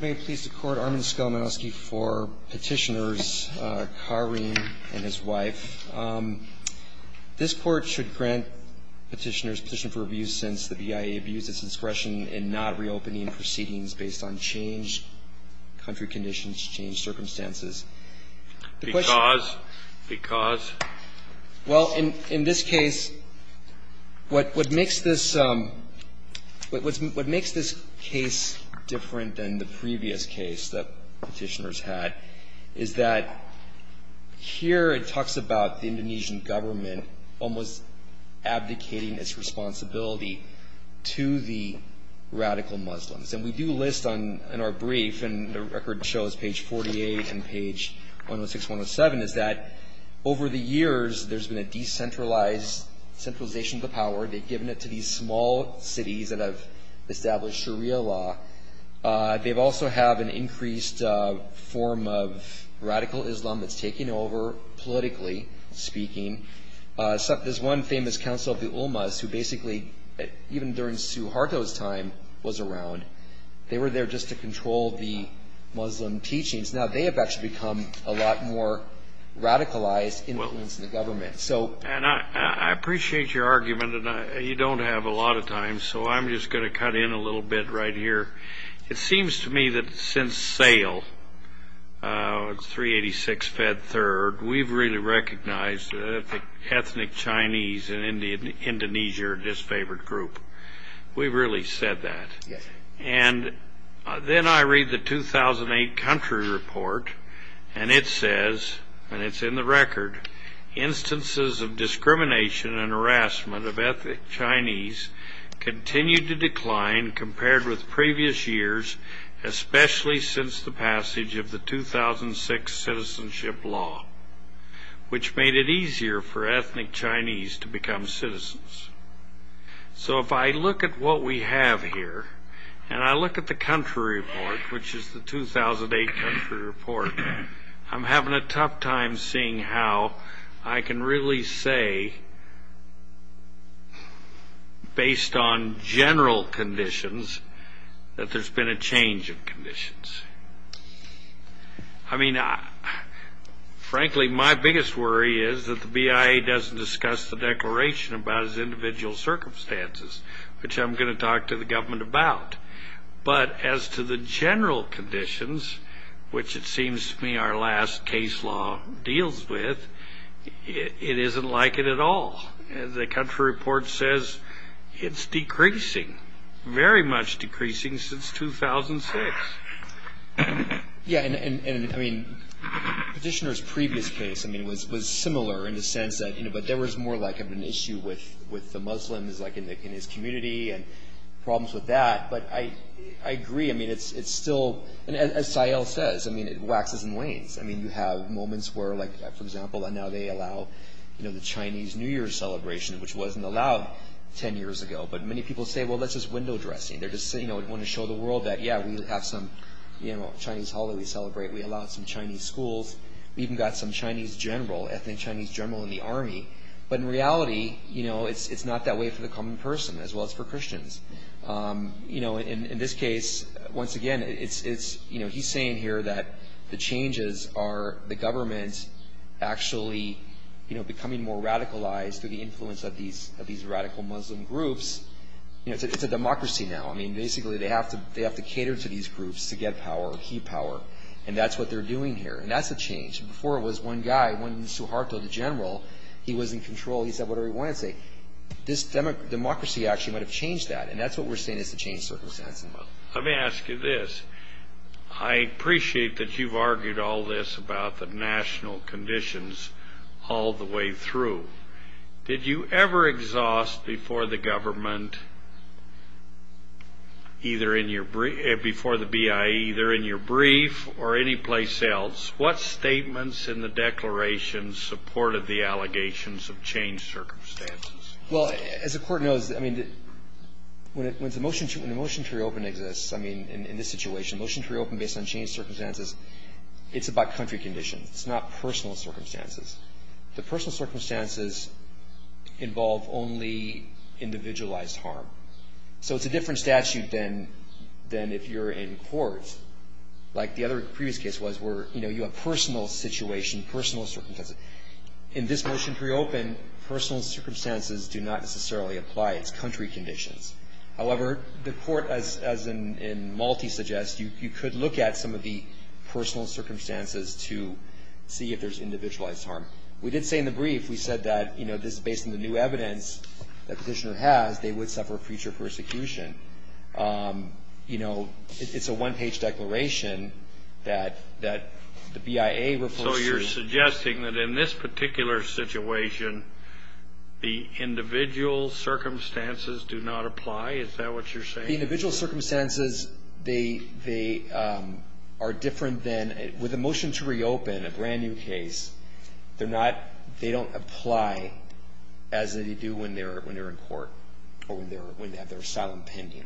May it please the Court, Armin Skolmansky for Petitioners, Karim and his wife. This Court should grant Petitioners Petition for Abuse since the BIA abused its discretion in not reopening proceedings based on changed country conditions, changed circumstances. Because? Because? Well, in this case, what makes this case different than the previous case that Petitioners had is that here it talks about the Indonesian government almost abdicating its responsibility to the radical Muslims. And we do list on our brief, and the record shows page 48 and page 106, 107, is that over the years, there's been a decentralized centralization of the power. They've given it to these small cities that have established Sharia law. They also have an increased form of radical Islam that's taking over, politically speaking. There's one famous council of the Ulmas who basically, even during Suharto's time, was around. They were there just to control the Muslim teachings. Now, they have actually become a lot more radicalized influence in the government. And I appreciate your argument, and you don't have a lot of time, so I'm just going to cut in a little bit right here. It seems to me that since SAIL, 386 Fed Third, we've really recognized ethnic Chinese and Indonesia are a disfavored group. We've really said that. And then I read the 2008 country report, and it says, and it's in the record, instances of discrimination and harassment of ethnic Chinese continue to decline compared with previous years, especially since the passage of the 2006 citizenship law, which made it easier for ethnic Chinese to become citizens. So if I look at what we have here, and I look at the country report, which is the 2008 country report, I'm having a tough time seeing how I can really say, based on general conditions, that there's been a change of conditions. I mean, frankly, my biggest worry is that the BIA doesn't discuss the declaration about its individual circumstances, which I'm going to talk to the government about. But as to the general conditions, which it seems to me our last case law deals with, it isn't like it at all. The country report says it's decreasing, very much decreasing since 2006. Yeah, and I mean, petitioner's previous case, I mean, was similar in the sense that, you know, but there was more like of an issue with the Muslims, like in his community and problems with that. But I agree. I mean, it's still, and as SAIL says, I mean, it waxes and wanes. I mean, you have moments where, like, for example, and now they allow, you know, the Chinese New Year celebration, which wasn't allowed 10 years ago. But many people say, well, that's just window dressing. They're just, you know, want to show the world that, yeah, we have some, you know, Chinese holiday we celebrate. We allowed some Chinese schools. We even got some Chinese general, ethnic Chinese general in the army. But in reality, you know, it's not that way for the common person, as well as for Christians. You know, in this case, once again, it's, you know, he's saying here that the changes are the government's actually, you know, becoming more radicalized through the influence of these radical Muslim groups. You know, it's a democracy now. I mean, basically they have to cater to these groups to get power or keep power. And that's what they're doing here. And that's a change. Before it was one guy, one Suharto, the general. He was in control. He said whatever he wanted to say. This democracy actually might have changed that. And that's what we're saying is the change circumstances. Let me ask you this. I appreciate that you've argued all this about the national conditions all the way through. Did you ever exhaust before the government, before the BIE, either in your brief or anyplace else, what statements in the declaration supported the allegations of change circumstances? Well, as the court knows, I mean, when the motion to reopen exists, I mean, in this situation, motion to reopen based on change circumstances, it's about country conditions. It's not personal circumstances. The personal circumstances involve only individualized harm. So it's a different statute than if you're in court. Like the other previous case was where, you know, you have personal situation, personal circumstances. In this motion to reopen, personal circumstances do not necessarily apply. It's country conditions. However, the court, as in Malte suggests, you could look at some of the personal circumstances to see if there's individualized harm. We did say in the brief, we said that, you know, this is based on the new evidence the petitioner has. They would suffer future persecution. You know, it's a one-page declaration that the BIA refers to. So you're suggesting that in this particular situation, the individual circumstances do not apply? Is that what you're saying? The individual circumstances, they are different than with a motion to reopen, a brand-new case. They don't apply as they do when they're in court or when they have their asylum pending.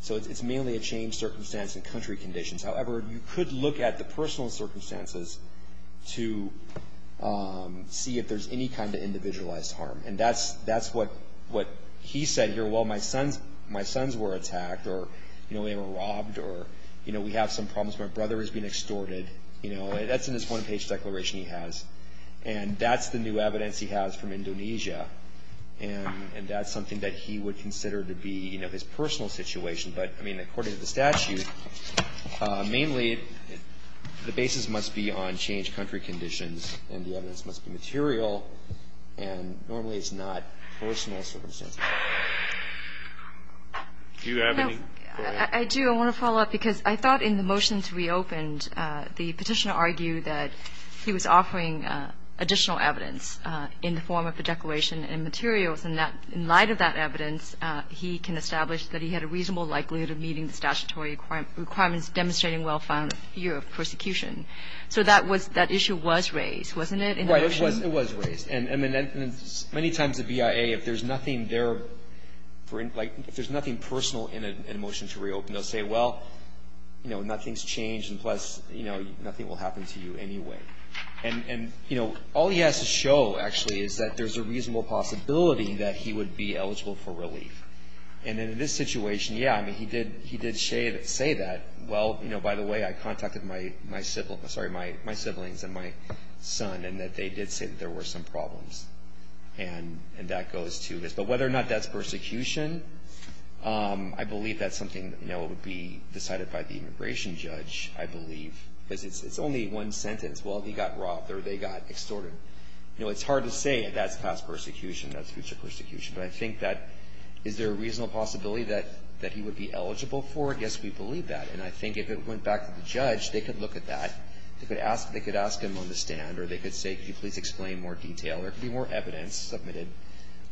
So it's mainly a changed circumstance and country conditions. However, you could look at the personal circumstances to see if there's any kind of individualized harm. And that's what he said here. Well, my sons were attacked or, you know, they were robbed or, you know, we have some problems. My brother is being extorted. You know, that's in his one-page declaration he has. And that's the new evidence he has from Indonesia. And that's something that he would consider to be, you know, his personal situation. But, I mean, according to the statute, mainly the basis must be on changed country conditions and the evidence must be material. And normally it's not personal circumstances. Do you have any? I do. I want to follow up because I thought in the motion to reopen, the Petitioner argued that he was offering additional evidence in the form of a declaration and materials, and that in light of that evidence, he can establish that he had a reasonable likelihood of meeting the statutory requirements demonstrating well-founded fear of persecution. So that was that issue was raised, wasn't it, in the motion? Right. It was raised. And many times the BIA, if there's nothing personal in a motion to reopen, they'll say, well, you know, nothing's changed, and plus, you know, nothing will happen to you anyway. And, you know, all he has to show, actually, is that there's a reasonable possibility that he would be eligible for relief. And in this situation, yeah, I mean, he did say that, well, you know, by the way, I contacted my siblings and my son, and that they did say that there were some problems. And that goes to this. But whether or not that's persecution, I believe that's something, you know, it would be decided by the immigration judge, I believe, because it's only one sentence. Well, he got robbed or they got extorted. You know, it's hard to say that's past persecution, that's future persecution. But I think that is there a reasonable possibility that he would be eligible for? I guess we believe that. And I think if it went back to the judge, they could look at that. They could ask him on the stand, or they could say, could you please explain in more detail? There could be more evidence submitted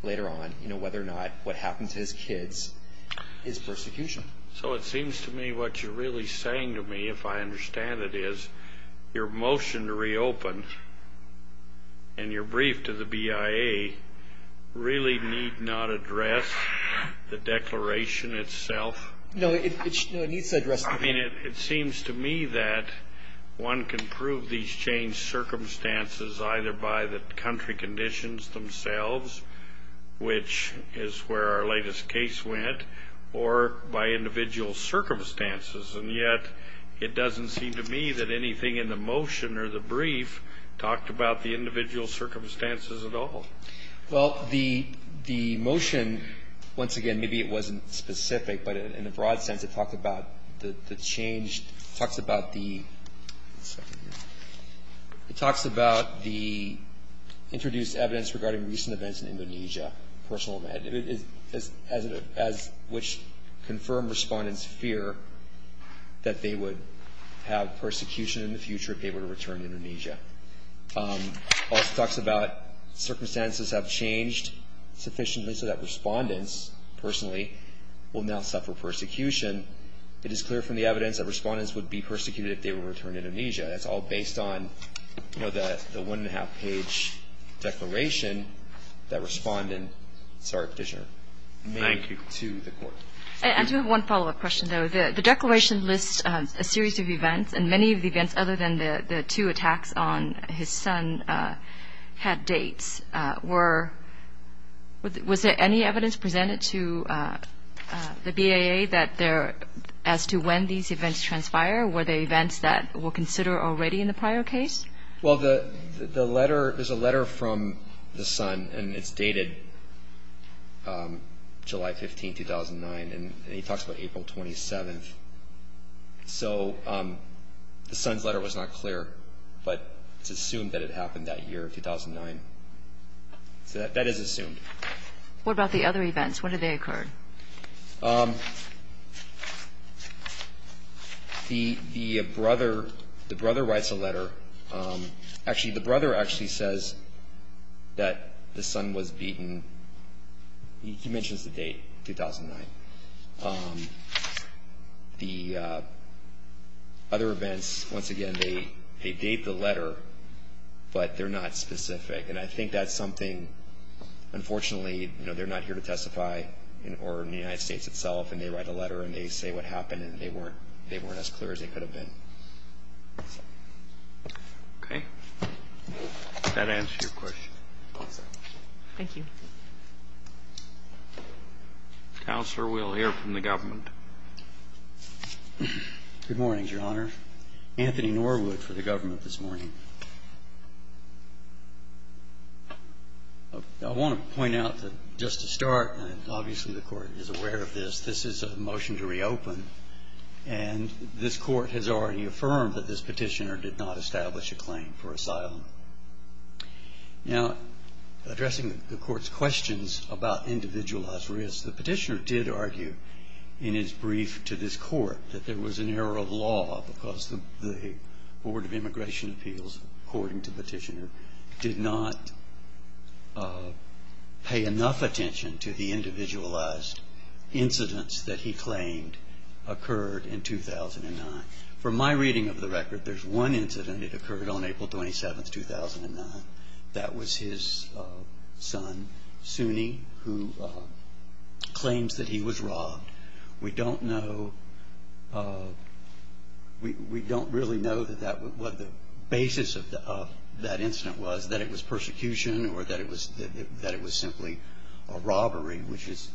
later on, you know, whether or not what happened to his kids is persecution. So it seems to me what you're really saying to me, if I understand it, is your motion to reopen and your brief to the BIA really need not address the declaration itself? No, it needs to address the brief. I mean, it seems to me that one can prove these changed circumstances either by the country conditions themselves, which is where our latest case went, or by individual circumstances. And yet it doesn't seem to me that anything in the motion or the brief talked about the individual circumstances at all. Well, the motion, once again, maybe it wasn't specific, but in a broad sense, it talks about the change, talks about the introduced evidence regarding recent events in Indonesia, personal event, as which confirmed respondents fear that they would have persecution in the future Also talks about circumstances have changed sufficiently so that respondents, personally, will now suffer persecution. It is clear from the evidence that respondents would be persecuted if they were to return to Indonesia. That's all based on, you know, the one-and-a-half page declaration that respondent Sorry, Petitioner. Thank you. And to the court. I do have one follow-up question, though. The declaration lists a series of events, and many of the events other than the two attacks on his son had dates. Was there any evidence presented to the BAA as to when these events transpired? Were they events that were considered already in the prior case? Well, there's a letter from the son, and it's dated July 15, 2009, and he talks about April 27. So the son's letter was not clear, but it's assumed that it happened that year, 2009. So that is assumed. What about the other events? When did they occur? The brother writes a letter. Actually, the brother actually says that the son was beaten. He mentions the date, 2009. The other events, once again, they date the letter, but they're not specific. And I think that's something, unfortunately, you know, they're not here to testify or in the United States itself, and they write a letter and they say what happened, and they weren't as clear as they could have been. Okay. Does that answer your question? Thank you. Counselor, we'll hear from the government. Good morning, Your Honor. Anthony Norwood for the government this morning. I want to point out that just to start, and obviously the Court is aware of this, this is a motion to reopen, and this Court has already affirmed that this petitioner did not establish a claim for asylum. Now, addressing the Court's questions about individualized risk, the petitioner did argue in his brief to this Court that there was an error of law because the Board of Immigration Appeals, according to the petitioner, did not pay enough attention to the individualized incidents that he claimed occurred in 2009. From my reading of the record, there's one incident that occurred on April 27, 2009. That was his son, Sunni, who claims that he was robbed. We don't know, we don't really know what the basis of that incident was, that it was persecution or that it was simply a robbery, which is...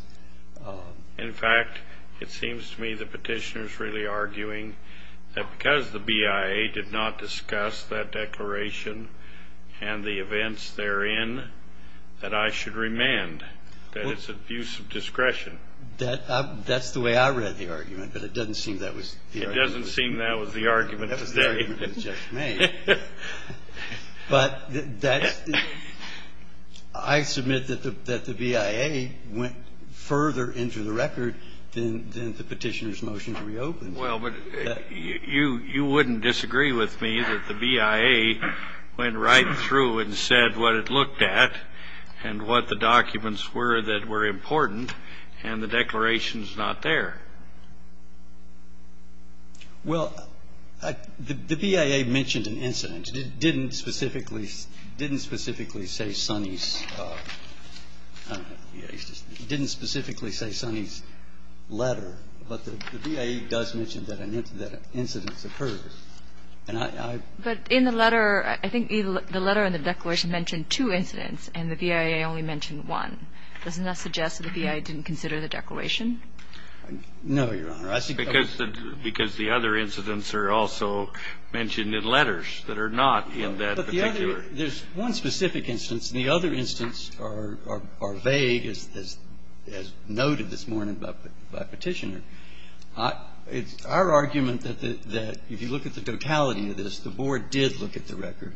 that because the BIA did not discuss that declaration and the events therein, that I should remand that it's abuse of discretion. That's the way I read the argument, but it doesn't seem that was the argument. It doesn't seem that was the argument today. That was the argument that was just made. But I submit that the BIA went further into the record than the petitioner's motion to reopen. Well, but you wouldn't disagree with me that the BIA went right through and said what it looked at and what the documents were that were important, and the declaration is not there. Well, the BIA mentioned an incident. It didn't specifically say Sunni's letter. But the BIA does mention that an incident occurs. And I... But in the letter, I think the letter and the declaration mention two incidents and the BIA only mentioned one. Doesn't that suggest that the BIA didn't consider the declaration? No, Your Honor. I think... Because the other incidents are also mentioned in letters that are not in that particular. But the other... There's one specific instance. The other instance are vague, as noted this morning by Petitioner. It's our argument that if you look at the totality of this, the Board did look at the record.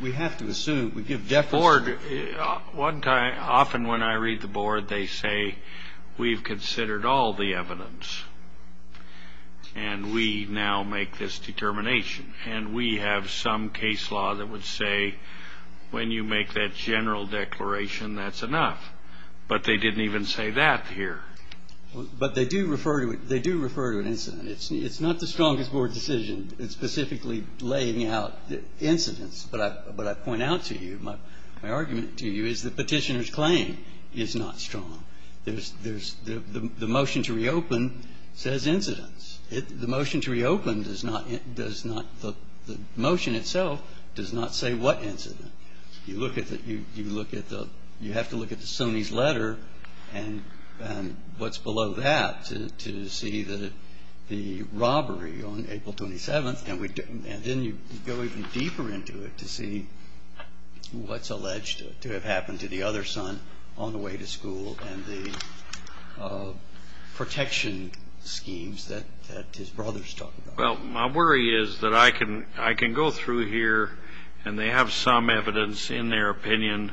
We have to assume. We give definite... The Board... Often when I read the Board, they say we've considered all the evidence, and we now make this determination. And we have some case law that would say when you make that general declaration, that's enough. But they didn't even say that here. But they do refer to it. They do refer to an incident. It's not the strongest Board decision. It's specifically laying out incidents. But I... But I point out to you, my argument to you is that Petitioner's claim is not strong. There's... The motion to reopen says incidents. The motion to reopen does not... Does not... The motion itself does not say what incident. You look at the... You look at the... You have to look at the SUNY's letter and what's below that to see the robbery on April 27th. And then you go even deeper into it to see what's alleged to have happened to the other son on the way to school and the protection schemes that his brothers talk about. Well, my worry is that I can go through here, and they have some evidence in their opinion,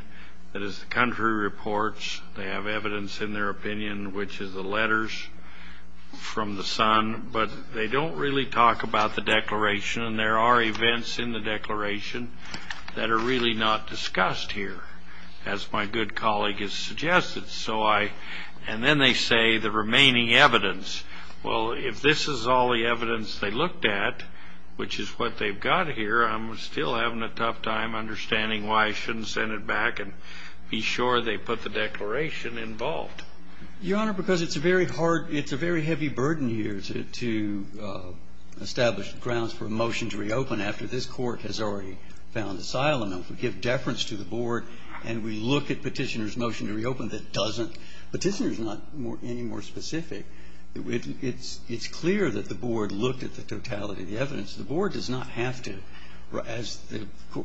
that is the country reports. They have evidence in their opinion, which is the letters from the son. But they don't really talk about the declaration. And there are events in the declaration that are really not discussed here, as my good colleague has suggested. So I... And then they say the remaining evidence. Well, if this is all the evidence they looked at, which is what they've got here, I'm still having a tough time understanding why I shouldn't send it back and be sure they put the declaration involved. Your Honor, because it's a very hard... It's a very heavy burden here to establish grounds for a motion to reopen after this court has already found asylum. If we give deference to the Board and we look at Petitioner's motion to reopen that doesn't... Petitioner's not any more specific. It's clear that the Board looked at the totality of the evidence. The Board does not have to... As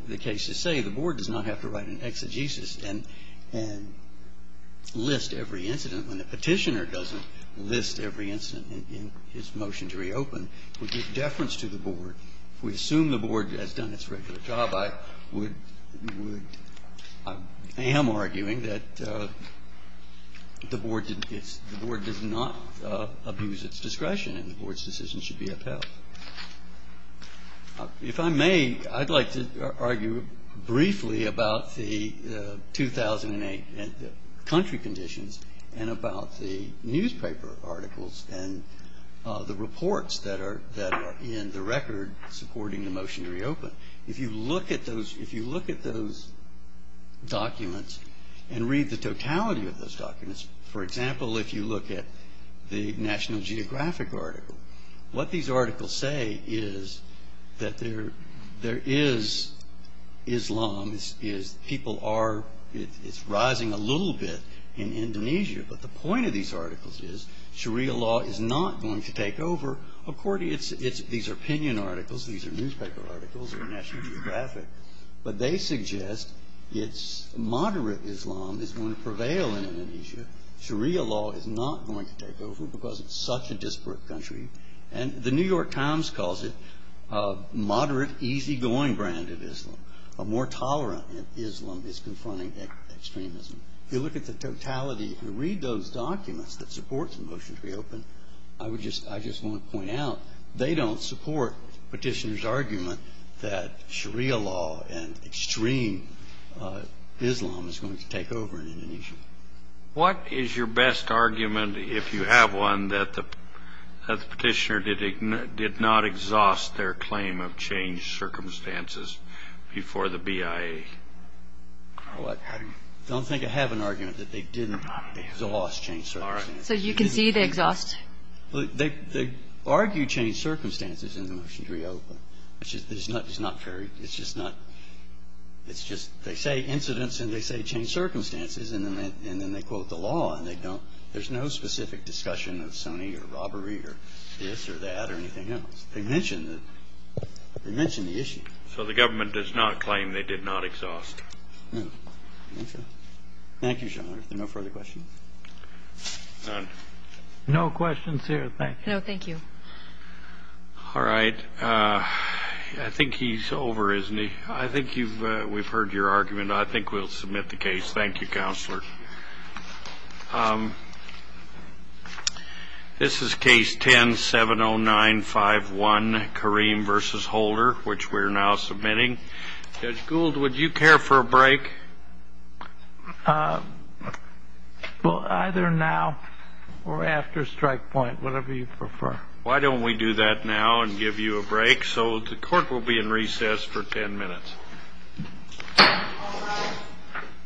the cases say, the Board does not have to write an exegesis and list every incident when the Petitioner doesn't list every incident in his motion to reopen. We give deference to the Board. If we assume the Board has done its regular job, I would... I am arguing that the Board did... The Board does not abuse its discretion and the Board's decision should be upheld. If I may, I'd like to argue briefly about the 2008 country conditions and about the newspaper articles and the reports that are in the record supporting the motion to reopen. If you look at those documents and read the totality of those documents, for example, if you look at the National Geographic article, what these articles say is that there is Islam. People are... It's rising a little bit in Indonesia. But the point of these articles is Sharia law is not going to take over. Of course, it's... These are opinion articles. These are newspaper articles in the National Geographic. But they suggest it's moderate Islam is going to prevail in Indonesia. Sharia law is not going to take over because it's such a disparate country. And the New York Times calls it a moderate, easygoing brand of Islam. A more tolerant Islam is confronting extremism. If you look at the totality and read those documents that support the motion to reopen, I just want to point out they don't support Petitioner's argument that Sharia law and extreme Islam is going to take over in Indonesia. What is your best argument, if you have one, that the Petitioner did not exhaust their claim of changed circumstances before the BIA? Well, I don't think I have an argument that they didn't exhaust changed circumstances. All right. So you can see they exhaust... They argue changed circumstances in the motion to reopen. It's just not very... It's just not... It's just they say incidents and they say changed circumstances, and then they quote the law and they don't... There's no specific discussion of Sunni or robbery or this or that or anything else. They mention the issue. So the government does not claim they did not exhaust. No. Okay. Thank you, John. Are there no further questions? None. No questions here. Thank you. No, thank you. All right. I think he's over, isn't he? I think we've heard your argument. I think we'll submit the case. Thank you, Counselor. This is Case 10-70951, Kareem v. Holder, which we're now submitting. Judge Gould, would you care for a break? Well, either now or after strike point, whatever you prefer. Why don't we do that now and give you a break? So the Court will be in recess for 10 minutes. All right.